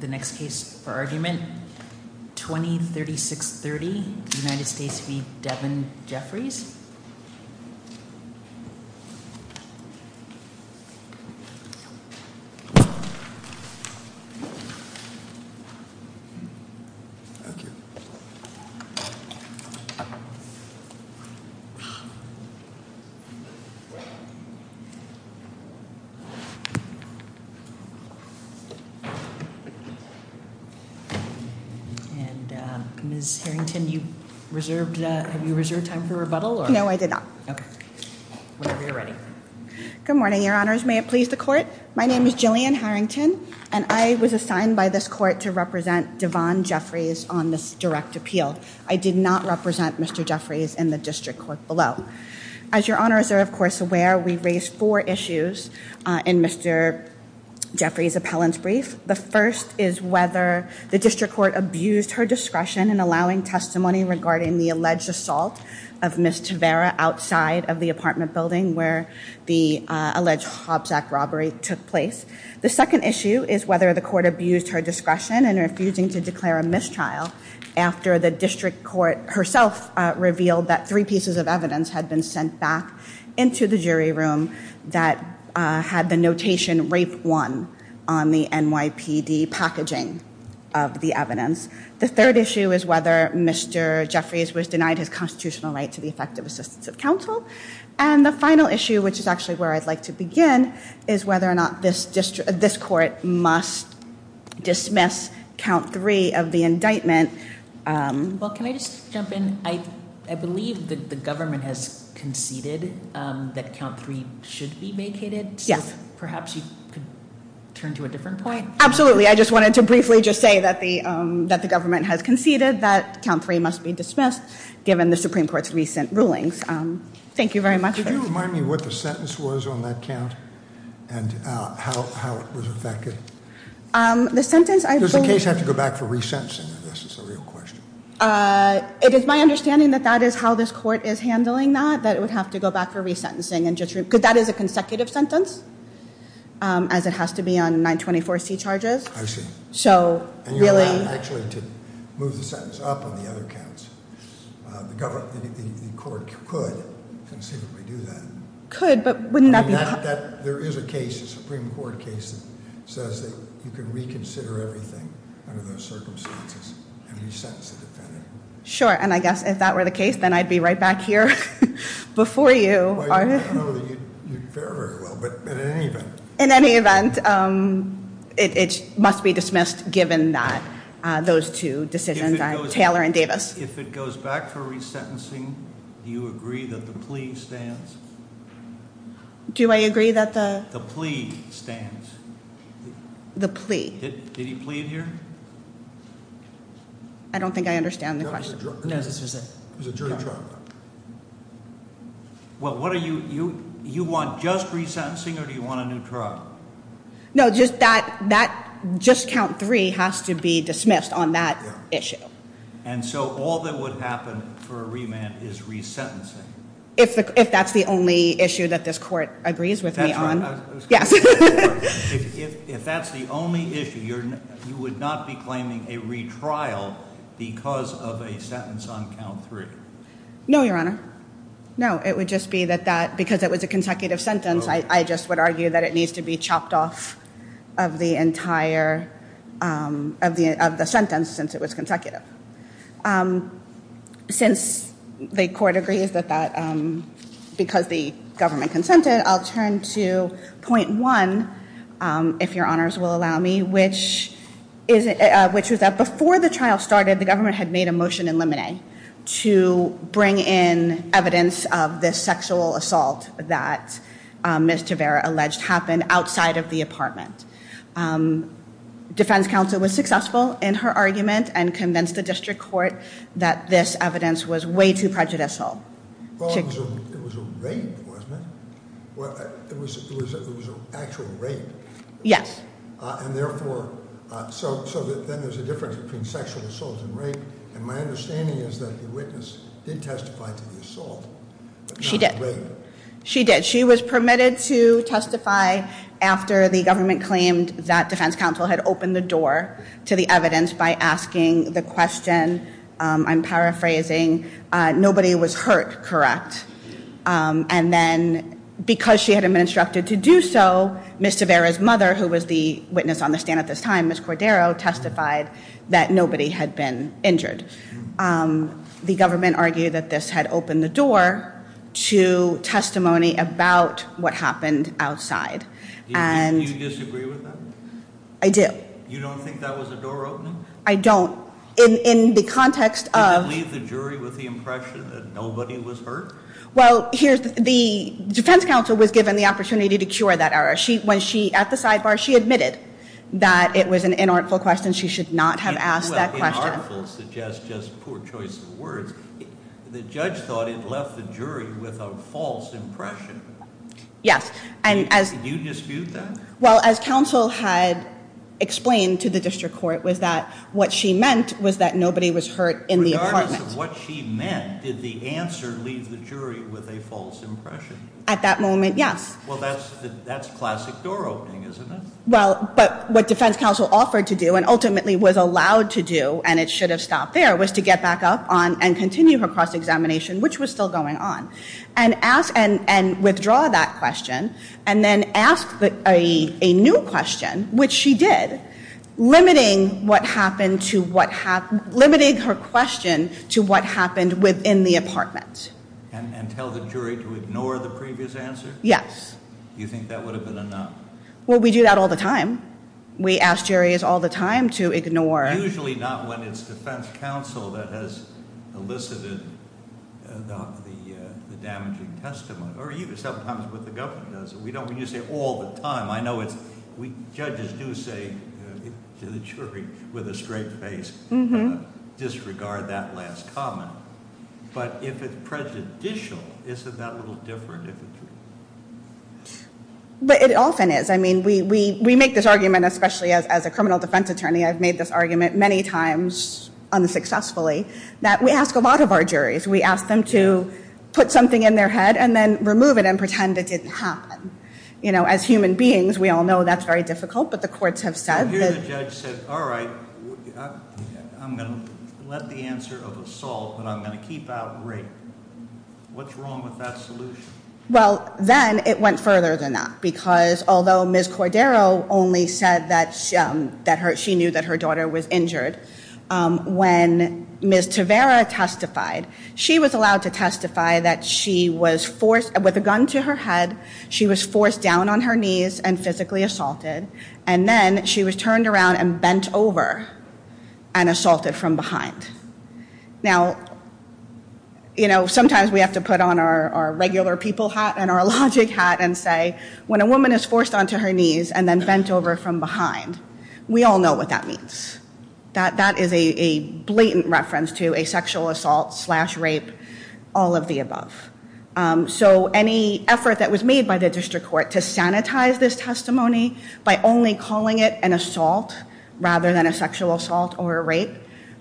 The next case for argument, 20-3630, United States v. Devon Jeffries Ms. Harrington, have you reserved time for rebuttal? No, I did not. Whenever you're ready. Good morning, Your Honors. May it please the Court? My name is Jillian Harrington, and I was assigned by this Court to represent Devon Jeffries on this direct appeal. I did not represent Mr. Jeffries in the District Court below. As Your Honors are, of course, aware, we raised four issues in Mr. Jeffries' appellant brief. The first is whether the District Court abused her discretion in allowing testimony regarding the alleged assault of Ms. Tavera outside of the apartment building where the alleged Hobbs Act robbery took place. The second issue is whether the Court abused her discretion in refusing to declare a mistrial after the District Court herself revealed that three pieces of evidence had been sent back into the jury room that had the notation RAPE 1 on the NYPD packaging of the evidence. The third issue is whether Mr. Jeffries was denied his constitutional right to the effective assistance of counsel. And the final issue, which is actually where I'd like to begin, is whether or not this Court must dismiss Count 3 of the indictment. Well, can I just jump in? I believe that the government has conceded that Count 3 should be vacated. Yes. So perhaps you could turn to a different point. Absolutely. I just wanted to briefly just say that the government has conceded that Count 3 must be dismissed given the Supreme Court's recent rulings. Thank you very much. Could you remind me what the sentence was on that count and how it was effected? The sentence, I believe- Does the case have to go back for resentencing? This is a real question. It is my understanding that that is how this Court is handling that, that it would have to go back for resentencing. Because that is a consecutive sentence, as it has to be on 924C charges. I see. So really- And you're allowed, actually, to move the sentence up on the other counts. The Court could conceivably do that. Could, but wouldn't that be- There is a case, a Supreme Court case, that says that you can reconsider everything under those circumstances and resentence the defendant. Sure, and I guess if that were the case, then I'd be right back here before you. I don't know that you'd fare very well, but in any event- In any event, it must be dismissed given those two decisions, Taylor and Davis. If it goes back for resentencing, do you agree that the plea stands? Do I agree that the- The plea stands. The plea. Did he plead here? I don't think I understand the question. No, this was a jury trial. Well, what are you- you want just resentencing, or do you want a new trial? No, just that- just count three has to be dismissed on that issue. And so all that would happen for a remand is resentencing? If that's the only issue that this court agrees with me on. Yes. If that's the only issue, you would not be claiming a retrial because of a sentence on count three? No, Your Honor. No, it would just be that that- because it was a consecutive sentence, I just would argue that it needs to be chopped off of the entire- of the sentence since it was consecutive. Since the court agrees that that- because the government consented, I'll turn to point one, if Your Honors will allow me, which is- which was that before the trial started, the government had made a motion in Limine to bring in evidence of this sexual assault that Ms. Tavera alleged happened outside of the apartment. Defense counsel was successful in her argument and convinced the district court that this evidence was way too prejudicial. Well, it was a- it was a rape, wasn't it? Well, it was- it was a- it was an actual rape. Yes. And therefore, so- so then there's a difference between sexual assault and rape. And my understanding is that the witness did testify to the assault, but not the rape. She did. She did. She was permitted to testify after the government claimed that defense counsel had opened the door to the evidence by asking the question- I'm paraphrasing- nobody was hurt, correct? And then because she had been instructed to do so, Ms. Tavera's mother, who was the witness on the stand at this time, Ms. Cordero, testified that nobody had been injured. The government argued that this had opened the door to testimony about what happened outside. Do you disagree with that? I do. You don't think that was a door opening? I don't. In the context of- Did it leave the jury with the impression that nobody was hurt? Well, here's- the defense counsel was given the opportunity to cure that error. When she- at the sidebar, she admitted that it was an inartful question. She should not have asked that question. Inartful suggests just poor choice of words. The judge thought it left the jury with a false impression. Yes. Did you dispute that? Well, as counsel had explained to the district court was that what she meant was that nobody was hurt in the apartment. Regardless of what she meant, did the answer leave the jury with a false impression? At that moment, yes. Well, that's classic door opening, isn't it? Well, but what defense counsel offered to do and ultimately was allowed to do, and it should have stopped there, was to get back up and continue her cross-examination, which was still going on, and ask- and withdraw that question and then ask a new question, which she did, limiting what happened to what- limiting her question to what happened within the apartment. And tell the jury to ignore the previous answer? Yes. Do you think that would have been enough? Well, we do that all the time. We ask juries all the time to ignore- Usually not when it's defense counsel that has elicited the damaging testimony, or even sometimes when the government does it. We don't usually say all the time. I know it's- judges do say to the jury with a straight face, disregard that last comment. But if it's prejudicial, isn't that a little different if it's- But it often is. I mean, we make this argument, especially as a criminal defense attorney, I've made this argument many times unsuccessfully, that we ask a lot of our juries. We ask them to put something in their head and then remove it and pretend it didn't happen. You know, as human beings, we all know that's very difficult, but the courts have said that- Well, here the judge said, all right, I'm going to let the answer of assault, but I'm going to keep out rape. What's wrong with that solution? Well, then it went further than that because although Ms. Cordero only said that she knew that her daughter was injured, when Ms. Tavera testified, she was allowed to testify that she was forced- with a gun to her head, she was forced down on her knees and physically assaulted, and then she was turned around and bent over and assaulted from behind. Now, you know, sometimes we have to put on our regular people hat and our logic hat and say, when a woman is forced onto her knees and then bent over from behind, we all know what that means. That is a blatant reference to a sexual assault slash rape, all of the above. So any effort that was made by the district court to sanitize this testimony by only calling it an assault rather than a sexual assault or a rape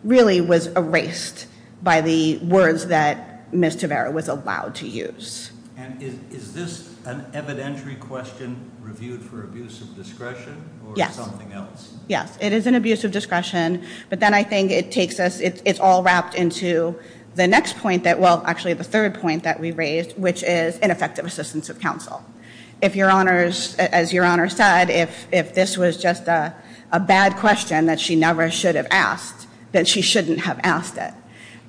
really was erased by the words that Ms. Tavera was allowed to use. And is this an evidentiary question reviewed for abuse of discretion or something else? Yes, it is an abuse of discretion, but then I think it takes us- it's all wrapped into the next point that- well, actually the third point that we raised, which is ineffective assistance of counsel. If your honors- as your honors said, if this was just a bad question that she never should have asked, then she shouldn't have asked it.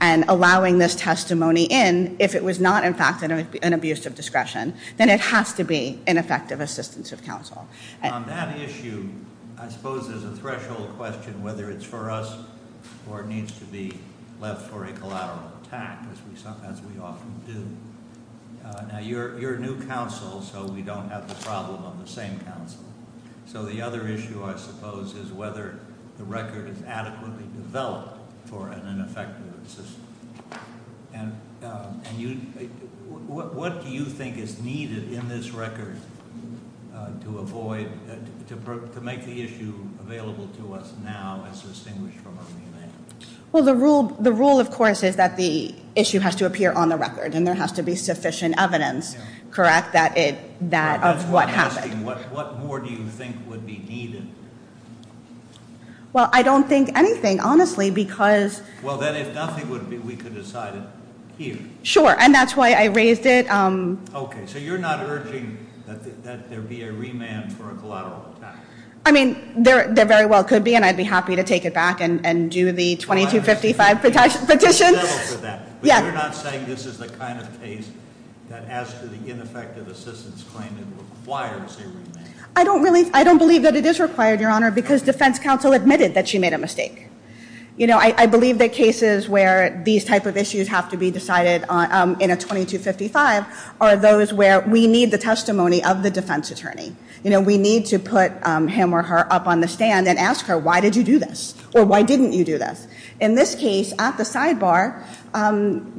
And allowing this testimony in, if it was not in fact an abuse of discretion, then it has to be ineffective assistance of counsel. On that issue, I suppose there's a threshold question whether it's for us or needs to be left for a collateral attack, as we often do. Now, you're a new counsel, so we don't have the problem of the same counsel. So the other issue, I suppose, is whether the record is adequately developed for an ineffective assistance. And what do you think is needed in this record to avoid- to make the issue available to us now as distinguished from a remand? Well, the rule, of course, is that the issue has to appear on the record and there has to be sufficient evidence, correct, of what happened. I'm asking what more do you think would be needed? Well, I don't think anything, honestly, because- Well, then if nothing would be, we could decide it here. Sure, and that's why I raised it. Okay, so you're not urging that there be a remand for a collateral attack? I mean, there very well could be, and I'd be happy to take it back and do the 2255 petitions. But you're not saying this is the kind of case that, as to the ineffective assistance claim, it requires a remand? I don't believe that it is required, Your Honor, because defense counsel admitted that she made a mistake. You know, I believe that cases where these type of issues have to be decided in a 2255 are those where we need the testimony of the defense attorney. You know, we need to put him or her up on the stand and ask her, why did you do this? Or why didn't you do this? In this case, at the sidebar,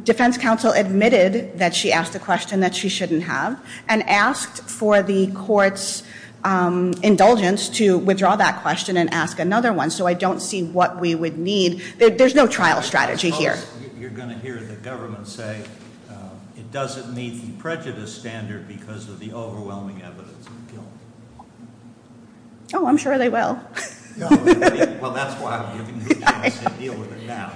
defense counsel admitted that she asked a question that she shouldn't have and asked for the court's indulgence to withdraw that question and ask another one. So I don't see what we would need. There's no trial strategy here. You're going to hear the government say it doesn't meet the prejudice standard because of the overwhelming evidence of guilt. Oh, I'm sure they will. Well, that's why I'm giving you the chance to deal with it now.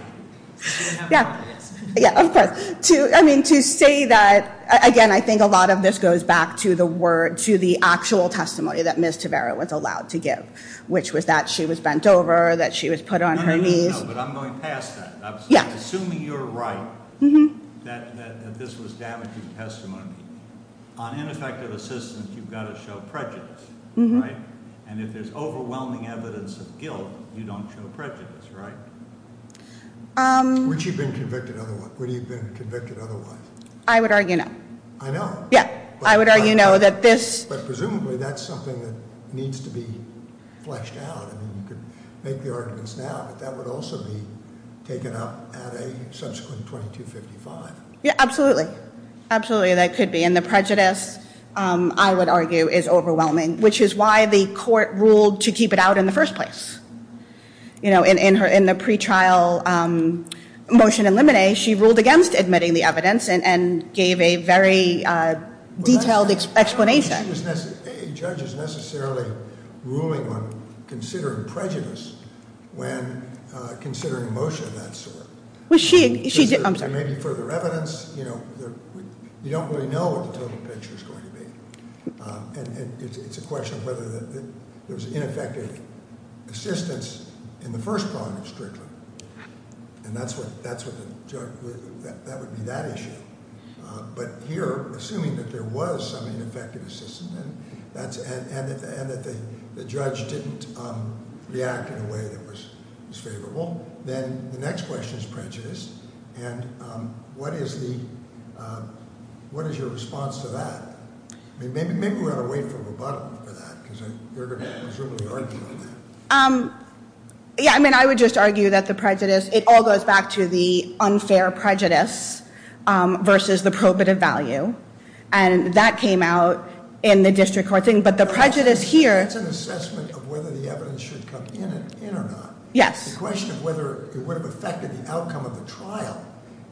Yeah, of course. I mean, to say that, again, I think a lot of this goes back to the word, to the actual testimony that Ms. Tavera was allowed to give, which was that she was bent over, that she was put on her knees. No, no, no, but I'm going past that. Assuming you're right, that this was damaging testimony, on ineffective assistance, you've got to show prejudice, right? And if there's overwhelming evidence of guilt, you don't show prejudice, right? Would she have been convicted otherwise? I would argue no. I know. Yeah, I would argue no. But presumably that's something that needs to be fleshed out. I mean, you could make the arguments now, but that would also be taken up at a subsequent 2255. Yeah, absolutely. Absolutely, that could be. And the prejudice, I would argue, is overwhelming, which is why the court ruled to keep it out in the first place. In the pretrial motion in limine, she ruled against admitting the evidence and gave a very detailed explanation. A judge is necessarily ruling on considering prejudice when considering a motion of that sort. I'm sorry. There may be further evidence. You know, you don't really know what the total picture is going to be. And it's a question of whether there was ineffective assistance in the first prong of Strickland, and that would be that issue. But here, assuming that there was some ineffective assistance and that the judge didn't react in a way that was favorable, then the next question is prejudice. And what is your response to that? Maybe we ought to wait for rebuttal for that, because you're going to presumably argue on that. Yeah, I mean, I would just argue that the prejudice, it all goes back to the unfair prejudice versus the probative value. And that came out in the district court thing. But the prejudice here- It's an assessment of whether the evidence should come in or not. Yes. The question of whether it would have affected the outcome of the trial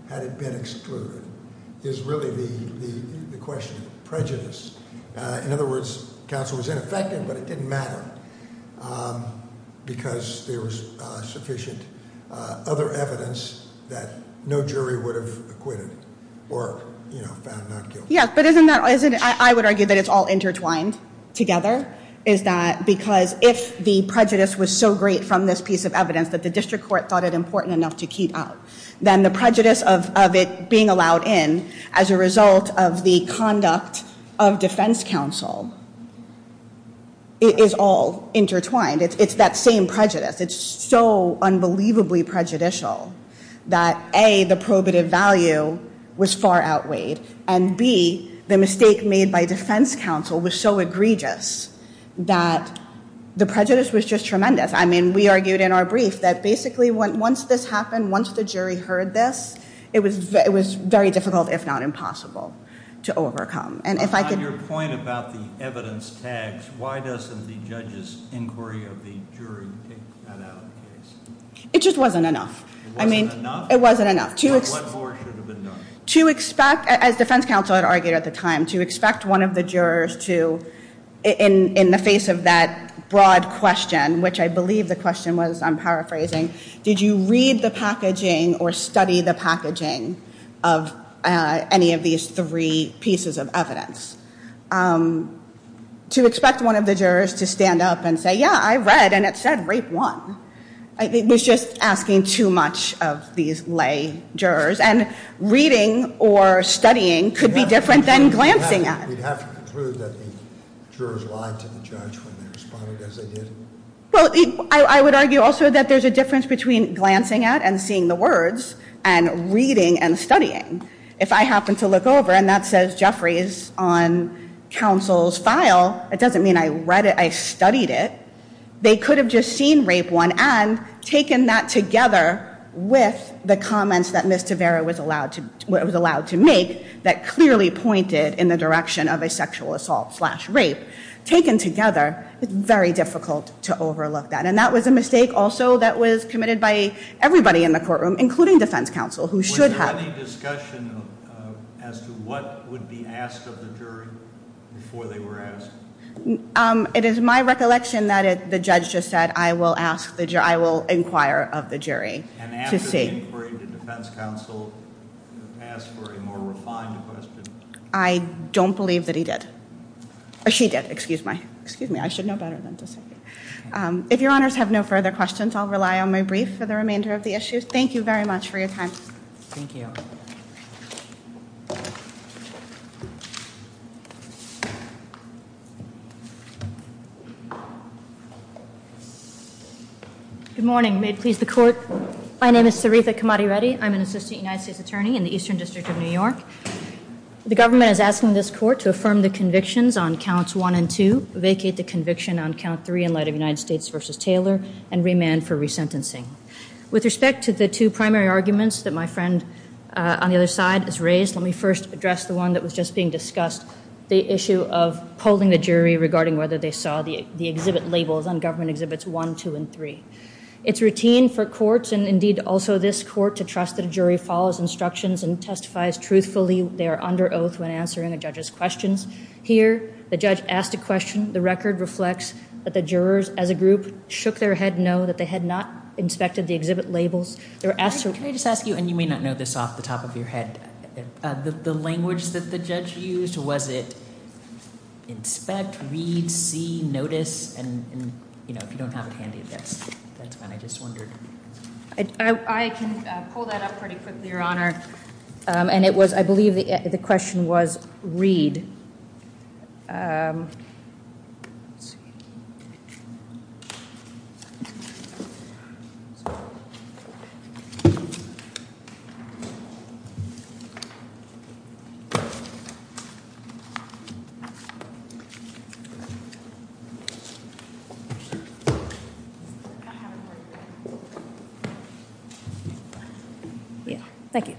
had it been excluded is really the question of prejudice. In other words, counsel was ineffective, but it didn't matter because there was sufficient other evidence that no jury would have acquitted or found not guilty. Yeah, but I would argue that it's all intertwined together. Is that because if the prejudice was so great from this piece of evidence that the district court thought it important enough to keep out, then the prejudice of it being allowed in as a result of the conduct of defense counsel is all intertwined. It's that same prejudice. It's so unbelievably prejudicial that, A, the probative value was far outweighed, and, B, the mistake made by defense counsel was so egregious that the prejudice was just tremendous. I mean, we argued in our brief that basically once this happened, once the jury heard this, it was very difficult, if not impossible, to overcome. On your point about the evidence tags, why doesn't the judge's inquiry of the jury take that out of the case? It just wasn't enough. It wasn't enough? It wasn't enough. What more should have been done? To expect, as defense counsel had argued at the time, to expect one of the jurors to, in the face of that broad question, which I believe the question was, I'm paraphrasing, did you read the packaging or study the packaging of any of these three pieces of evidence? To expect one of the jurors to stand up and say, yeah, I read, and it said rape one. It was just asking too much of these lay jurors. And reading or studying could be different than glancing at it. We'd have to conclude that the jurors lied to the judge when they responded as they did? Well, I would argue also that there's a difference between glancing at and seeing the words and reading and studying. If I happen to look over and that says Jeffrey's on counsel's file, it doesn't mean I read it, I studied it. They could have just seen rape one and taken that together with the comments that Ms. Tavera was allowed to make that clearly pointed in the direction of a sexual assault slash rape. Taken together, it's very difficult to overlook that. And that was a mistake also that was committed by everybody in the courtroom, including defense counsel, who should have. Was there any discussion as to what would be asked of the jury before they were asked? It is my recollection that the judge just said, I will inquire of the jury to see. And after the inquiry, did defense counsel ask for a more refined question? I don't believe that he did. Or she did, excuse me. I should know better than to say. If your honors have no further questions, I'll rely on my brief for the remainder of the issue. Thank you very much for your time. Thank you. Good morning. May it please the court. My name is Saritha Kamadi Reddy. I'm an assistant United States attorney in the Eastern District of New York. The government is asking this court to affirm the convictions on counts one and two, vacate the conviction on count three in light of United States v. Taylor, and remand for resentencing. With respect to the two primary arguments that my friend on the other side has raised, let me first address the one that was just being discussed, the issue of polling the jury regarding whether they saw the exhibit labels on government exhibits one, two, and three. It's routine for courts, and indeed also this court, to trust that a jury follows instructions and testifies truthfully they are under oath when answering a judge's questions. Here, the judge asked a question. The record reflects that the jurors, as a group, shook their head no, that they had not inspected the exhibit labels. Can I just ask you, and you may not know this off the top of your head, the language that the judge used, was it inspect, read, see, notice? And, you know, if you don't have it handy, that's fine. I just wondered. I can pull that up pretty quickly, Your Honor. And it was, I believe the question was read. Let's see. Yeah, thank you.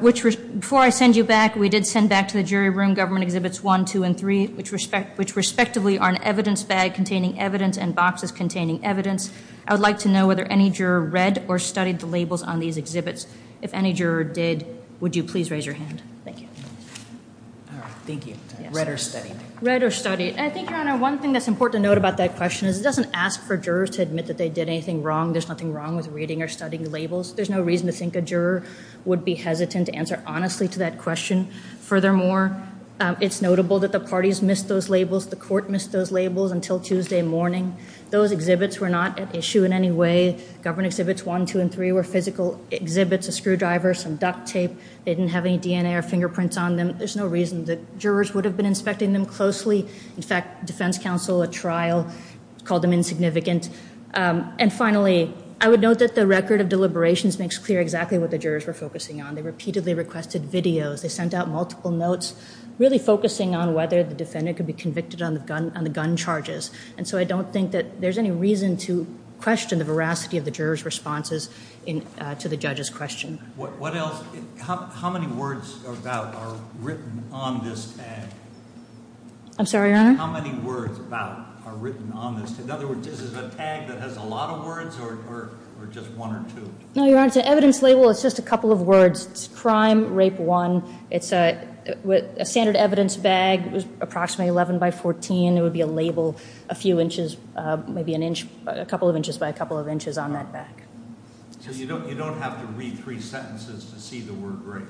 Before I send you back, we did send back to the jury room government exhibits one, two, and three, which respectively are an evidence bag containing evidence and boxes containing evidence. I would like to know whether any juror read or studied the labels on these exhibits. If any juror did, would you please raise your hand? Thank you. Thank you. Read or studied. Read or studied. And I think, Your Honor, one thing that's important to note about that question is it doesn't ask for jurors to admit that they did anything wrong. There's nothing wrong with reading or studying the labels. There's no reason to think a juror would be hesitant to answer honestly to that question. Furthermore, it's notable that the parties missed those labels. The court missed those labels until Tuesday morning. Those exhibits were not at issue in any way. Government exhibits one, two, and three were physical exhibits, a screwdriver, some duct tape. They didn't have any DNA or fingerprints on them. There's no reason that jurors would have been inspecting them closely. In fact, defense counsel at trial called them insignificant. And finally, I would note that the record of deliberations makes clear exactly what the jurors were focusing on. They repeatedly requested videos. They sent out multiple notes really focusing on whether the defendant could be convicted on the gun charges. And so I don't think that there's any reason to question the veracity of the jurors' responses to the judge's question. What else? How many words about are written on this tag? I'm sorry, Your Honor? How many words about are written on this tag? In other words, is it a tag that has a lot of words or just one or two? No, Your Honor. It's an evidence label. It's just a couple of words. It's crime, rape one. It's a standard evidence bag. It was approximately 11 by 14. It would be a label a few inches, maybe a couple of inches by a couple of inches on that bag. So you don't have to read three sentences to see the word rape.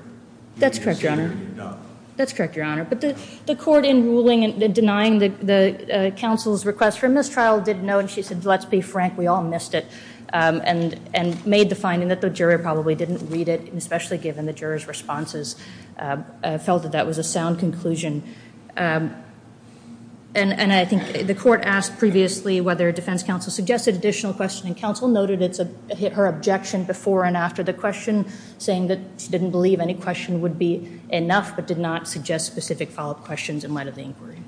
That's correct, Your Honor. You can't see it when you don't. That's correct, Your Honor. But the court, in denying the counsel's request for a mistrial, did note and she said, let's be frank, we all missed it and made the finding that the juror probably didn't read it, especially given the juror's responses felt that that was a sound conclusion. And I think the court asked previously whether defense counsel suggested additional questioning. Counsel noted her objection before and after the question, saying that she didn't believe any question would be enough but did not suggest specific follow-up questions in light of the inquiry.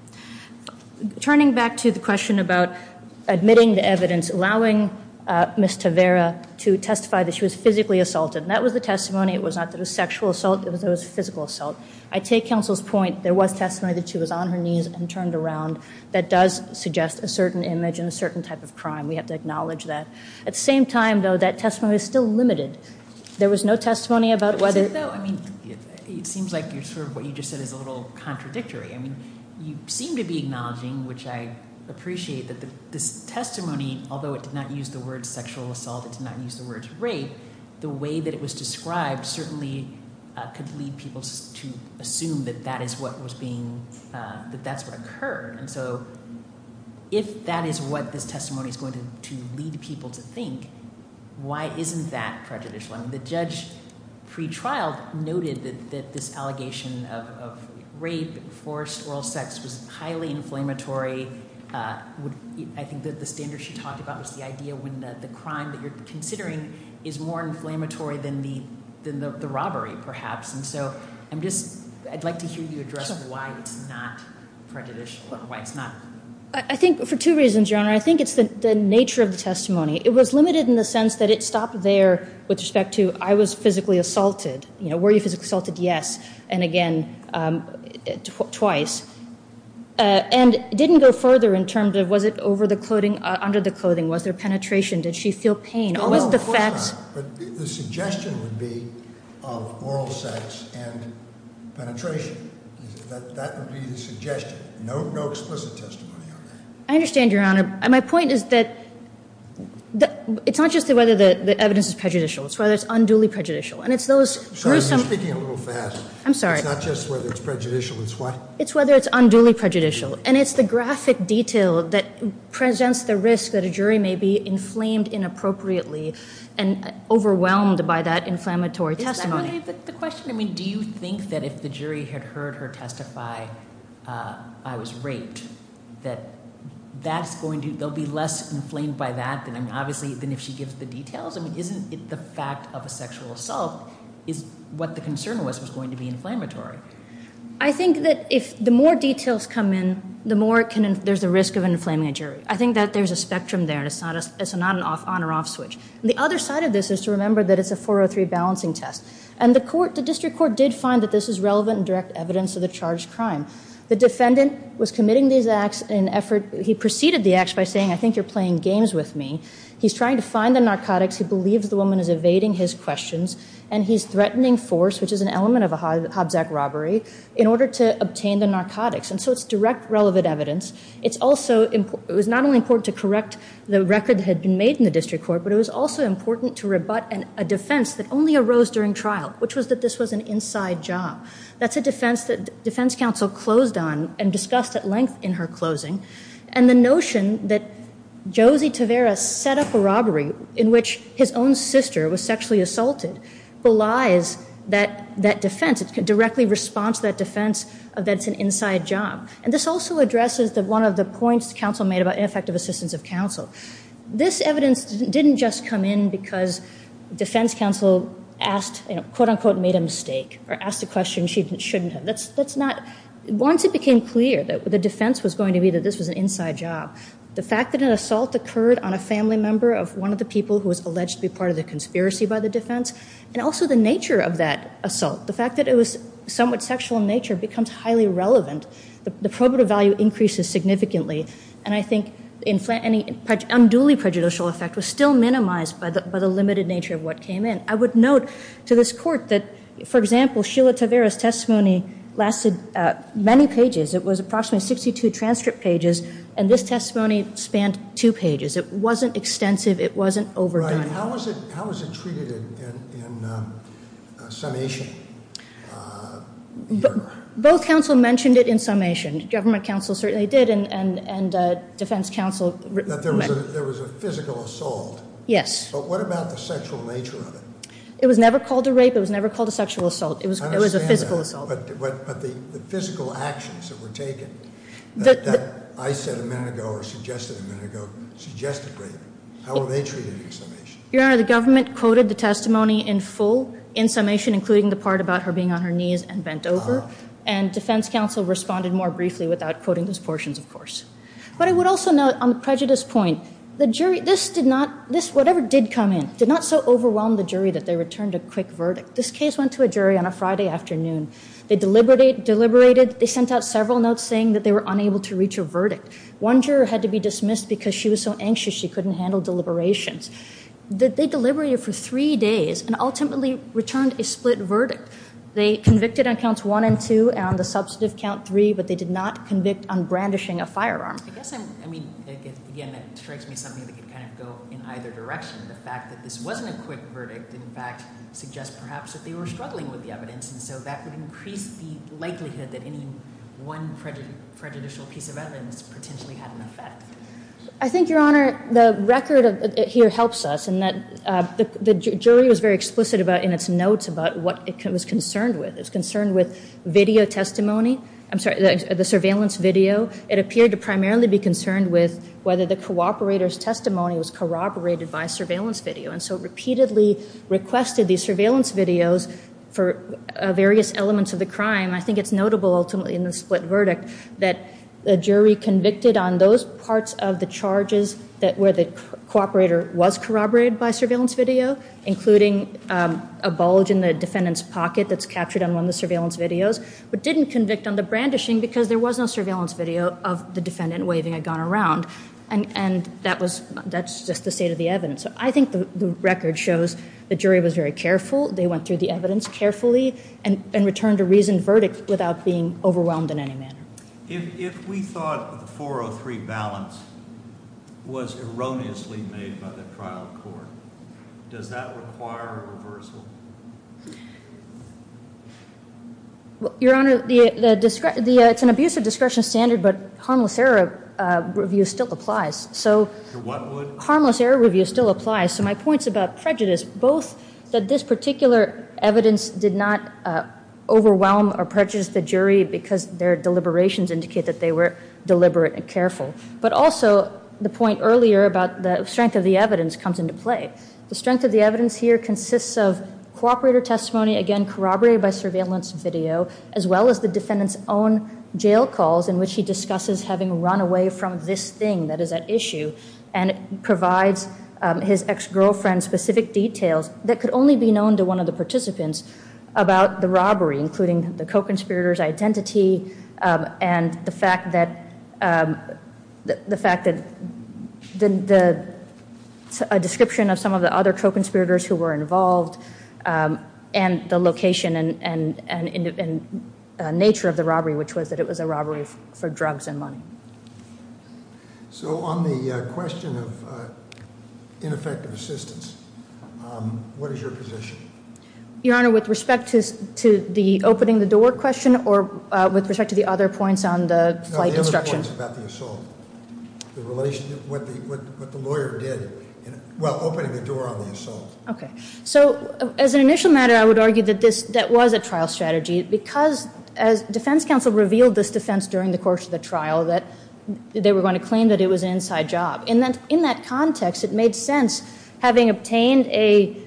Turning back to the question about admitting the evidence, allowing Ms. Tavera to testify that she was physically assaulted. That was the testimony. It was not that it was sexual assault. It was a physical assault. I take counsel's point. There was testimony that she was on her knees and turned around. That does suggest a certain image and a certain type of crime. We have to acknowledge that. At the same time, though, that testimony was still limited. There was no testimony about whether. I mean, it seems like what you just said is a little contradictory. I mean, you seem to be acknowledging, which I appreciate, that this testimony, although it did not use the words sexual assault, it did not use the words rape, the way that it was described certainly could lead people to assume that that is what was being, that that's what occurred. And so if that is what this testimony is going to lead people to think, why isn't that prejudicial? I mean, the judge pre-trial noted that this allegation of rape, forced oral sex was highly inflammatory. I think that the standards she talked about was the idea when the crime that you're considering I'd like to hear you address why it's not prejudicial, why it's not. I think for two reasons, Your Honor. I think it's the nature of the testimony. It was limited in the sense that it stopped there with respect to I was physically assaulted. You know, were you physically assaulted? Yes. And again, twice. And it didn't go further in terms of was it over the clothing, under the clothing? Was there penetration? Did she feel pain? No, of course not. But the suggestion would be of oral sex and penetration. That would be the suggestion. No explicit testimony on that. I understand, Your Honor. My point is that it's not just whether the evidence is prejudicial. It's whether it's unduly prejudicial. And it's those gruesome Sorry, you're speaking a little fast. I'm sorry. It's not just whether it's prejudicial. It's what? It's whether it's unduly prejudicial. And it's the graphic detail that presents the risk that a jury may be inflamed inappropriately and overwhelmed by that inflammatory testimony. Is that really the question? I mean, do you think that if the jury had heard her testify, I was raped, that they'll be less inflamed by that than if she gives the details? I mean, isn't the fact of a sexual assault what the concern was was going to be inflammatory? I think that the more details come in, the more there's a risk of inflaming a jury. I think that there's a spectrum there. It's not an on or off switch. The other side of this is to remember that it's a 403 balancing test. And the district court did find that this is relevant and direct evidence of the charged crime. The defendant was committing these acts in an effort. He preceded the acts by saying, I think you're playing games with me. He's trying to find the narcotics. He believes the woman is evading his questions. And he's threatening force, which is an element of a Hobbs Act robbery, in order to obtain the narcotics. And so it's direct relevant evidence. It was not only important to correct the record that had been made in the district court, but it was also important to rebut a defense that only arose during trial, which was that this was an inside job. That's a defense that defense counsel closed on and discussed at length in her closing. And the notion that Josie Tavera set up a robbery in which his own sister was sexually assaulted belies that defense. It directly responds to that defense that it's an inside job. And this also addresses one of the points counsel made about ineffective assistance of counsel. This evidence didn't just come in because defense counsel asked, quote, unquote, made a mistake or asked a question she shouldn't have. Once it became clear that the defense was going to be that this was an inside job, the fact that an assault occurred on a family member of one of the people who was alleged to be part of the conspiracy by the defense, and also the nature of that assault, the fact that it was somewhat sexual in nature becomes highly relevant. The probative value increases significantly. And I think any unduly prejudicial effect was still minimized by the limited nature of what came in. I would note to this court that, for example, Sheila Tavera's testimony lasted many pages. It was approximately 62 transcript pages, and this testimony spanned two pages. It wasn't extensive. It wasn't overdone. Right. How was it treated in summation? Both counsel mentioned it in summation. Government counsel certainly did, and defense counsel. That there was a physical assault. Yes. But what about the sexual nature of it? It was never called a rape. It was never called a sexual assault. It was a physical assault. I understand that. But the physical actions that were taken, that I said a minute ago or suggested a minute ago, suggested rape. How were they treated in summation? Your Honor, the government quoted the testimony in full, in summation, including the part about her being on her knees and bent over, and defense counsel responded more briefly without quoting those portions, of course. But I would also note on the prejudice point, the jury, this did not, whatever did come in, did not so overwhelm the jury that they returned a quick verdict. This case went to a jury on a Friday afternoon. They deliberated. They sent out several notes saying that they were unable to reach a verdict. One juror had to be dismissed because she was so anxious she couldn't handle deliberations. They deliberated for three days and ultimately returned a split verdict. They convicted on counts one and two and on the substantive count three, but they did not convict on brandishing a firearm. I guess I'm, I mean, again, that strikes me as something that could kind of go in either direction. The fact that this wasn't a quick verdict, in fact, suggests perhaps that they were struggling with the evidence, and so that would increase the likelihood that any one prejudicial piece of evidence potentially had an effect. I think, Your Honor, the record here helps us, and the jury was very explicit in its notes about what it was concerned with. It was concerned with video testimony. I'm sorry, the surveillance video. It appeared to primarily be concerned with whether the cooperator's testimony was corroborated by surveillance video, and so it repeatedly requested these surveillance videos for various elements of the crime. I think it's notable ultimately in the split verdict that the jury convicted on those parts of the charges where the cooperator was corroborated by surveillance video, including a bulge in the defendant's pocket that's captured on one of the surveillance videos, but didn't convict on the brandishing because there was no surveillance video of the defendant waving a gun around, and that's just the state of the evidence. I think the record shows the jury was very careful. They went through the evidence carefully and returned a reasoned verdict without being overwhelmed in any manner. If we thought the 403 balance was erroneously made by the trial court, does that require a reversal? Your Honor, it's an abusive discretion standard, but harmless error review still applies. So what would? Harmless error review still applies. So my point's about prejudice, both that this particular evidence did not overwhelm or prejudice the jury because their deliberations indicate that they were deliberate and careful, but also the point earlier about the strength of the evidence comes into play. The strength of the evidence here consists of cooperator testimony, again corroborated by surveillance video, as well as the defendant's own jail calls in which he discusses having run away from this thing that is at issue, and provides his ex-girlfriend specific details that could only be known to one of the participants about the robbery, including the co-conspirator's identity and the fact that a description of some of the other co-conspirators who were involved and the location and nature of the robbery, which was that it was a robbery for drugs and money. So on the question of ineffective assistance, what is your position? Your Honor, with respect to the opening the door question or with respect to the other points on the flight instruction? No, the other points about the assault, the relationship, what the lawyer did, well, opening the door on the assault. Okay. So as an initial matter, I would argue that that was a trial strategy because as defense counsel revealed this defense during the course of the trial, that they were going to claim that it was an inside job. So in that context, it made sense having obtained a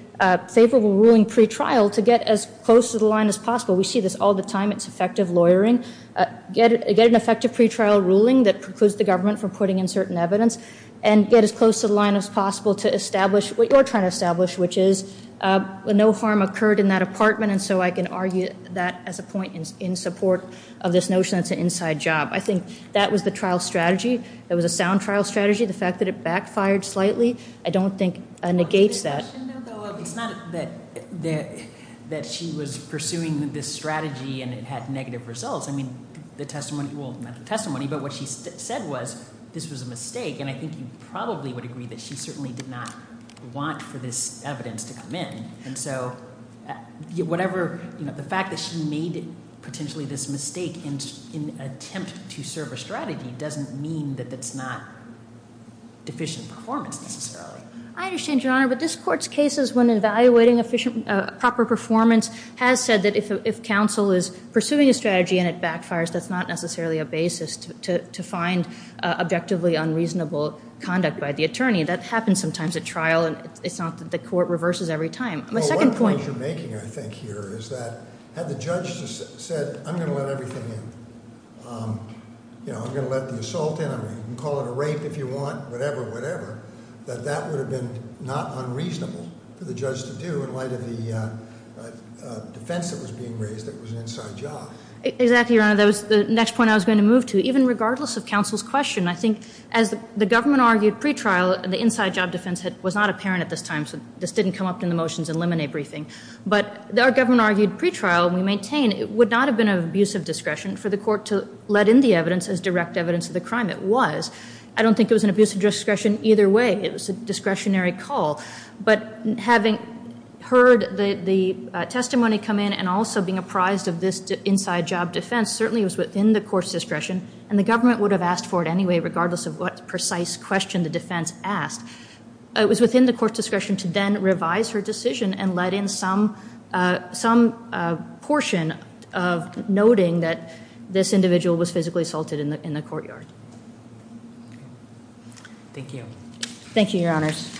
favorable ruling pretrial to get as close to the line as possible. We see this all the time. It's effective lawyering. Get an effective pretrial ruling that precludes the government from putting in certain evidence and get as close to the line as possible to establish what you're trying to establish, which is no harm occurred in that apartment. And so I can argue that as a point in support of this notion that it's an inside job. I think that was the trial strategy. It was a sound trial strategy. The fact that it backfired slightly I don't think negates that. It's not that she was pursuing this strategy and it had negative results. I mean, the testimony, well, not the testimony, but what she said was this was a mistake, and I think you probably would agree that she certainly did not want for this evidence to come in. And so the fact that she made potentially this mistake in an attempt to serve a strategy doesn't mean that it's not deficient performance necessarily. I understand, Your Honor, but this Court's cases when evaluating proper performance has said that if counsel is pursuing a strategy and it backfires, that's not necessarily a basis to find objectively unreasonable conduct by the attorney. That happens sometimes at trial, and it's not that the Court reverses every time. Well, one point you're making, I think, here is that had the judge said, I'm going to let everything in, you know, I'm going to let the assault in, I'm going to call it a rape if you want, whatever, whatever, that that would have been not unreasonable for the judge to do in light of the defense that was being raised that was an inside job. Exactly, Your Honor. That was the next point I was going to move to, even regardless of counsel's question. I think as the government argued pretrial, the inside job defense was not apparent at this time, so this didn't come up in the motions and lemonade briefing. But our government argued pretrial, we maintain, it would not have been of abusive discretion for the Court to let in the evidence as direct evidence of the crime. It was. I don't think it was an abusive discretion either way. It was a discretionary call. But having heard the testimony come in and also being apprised of this inside job defense, certainly it was within the court's discretion, and the government would have asked for it anyway regardless of what precise question the defense asked. It was within the court's discretion to then revise her decision and let in some portion of noting that this individual was physically assaulted in the courtyard. Thank you. Thank you, Your Honors.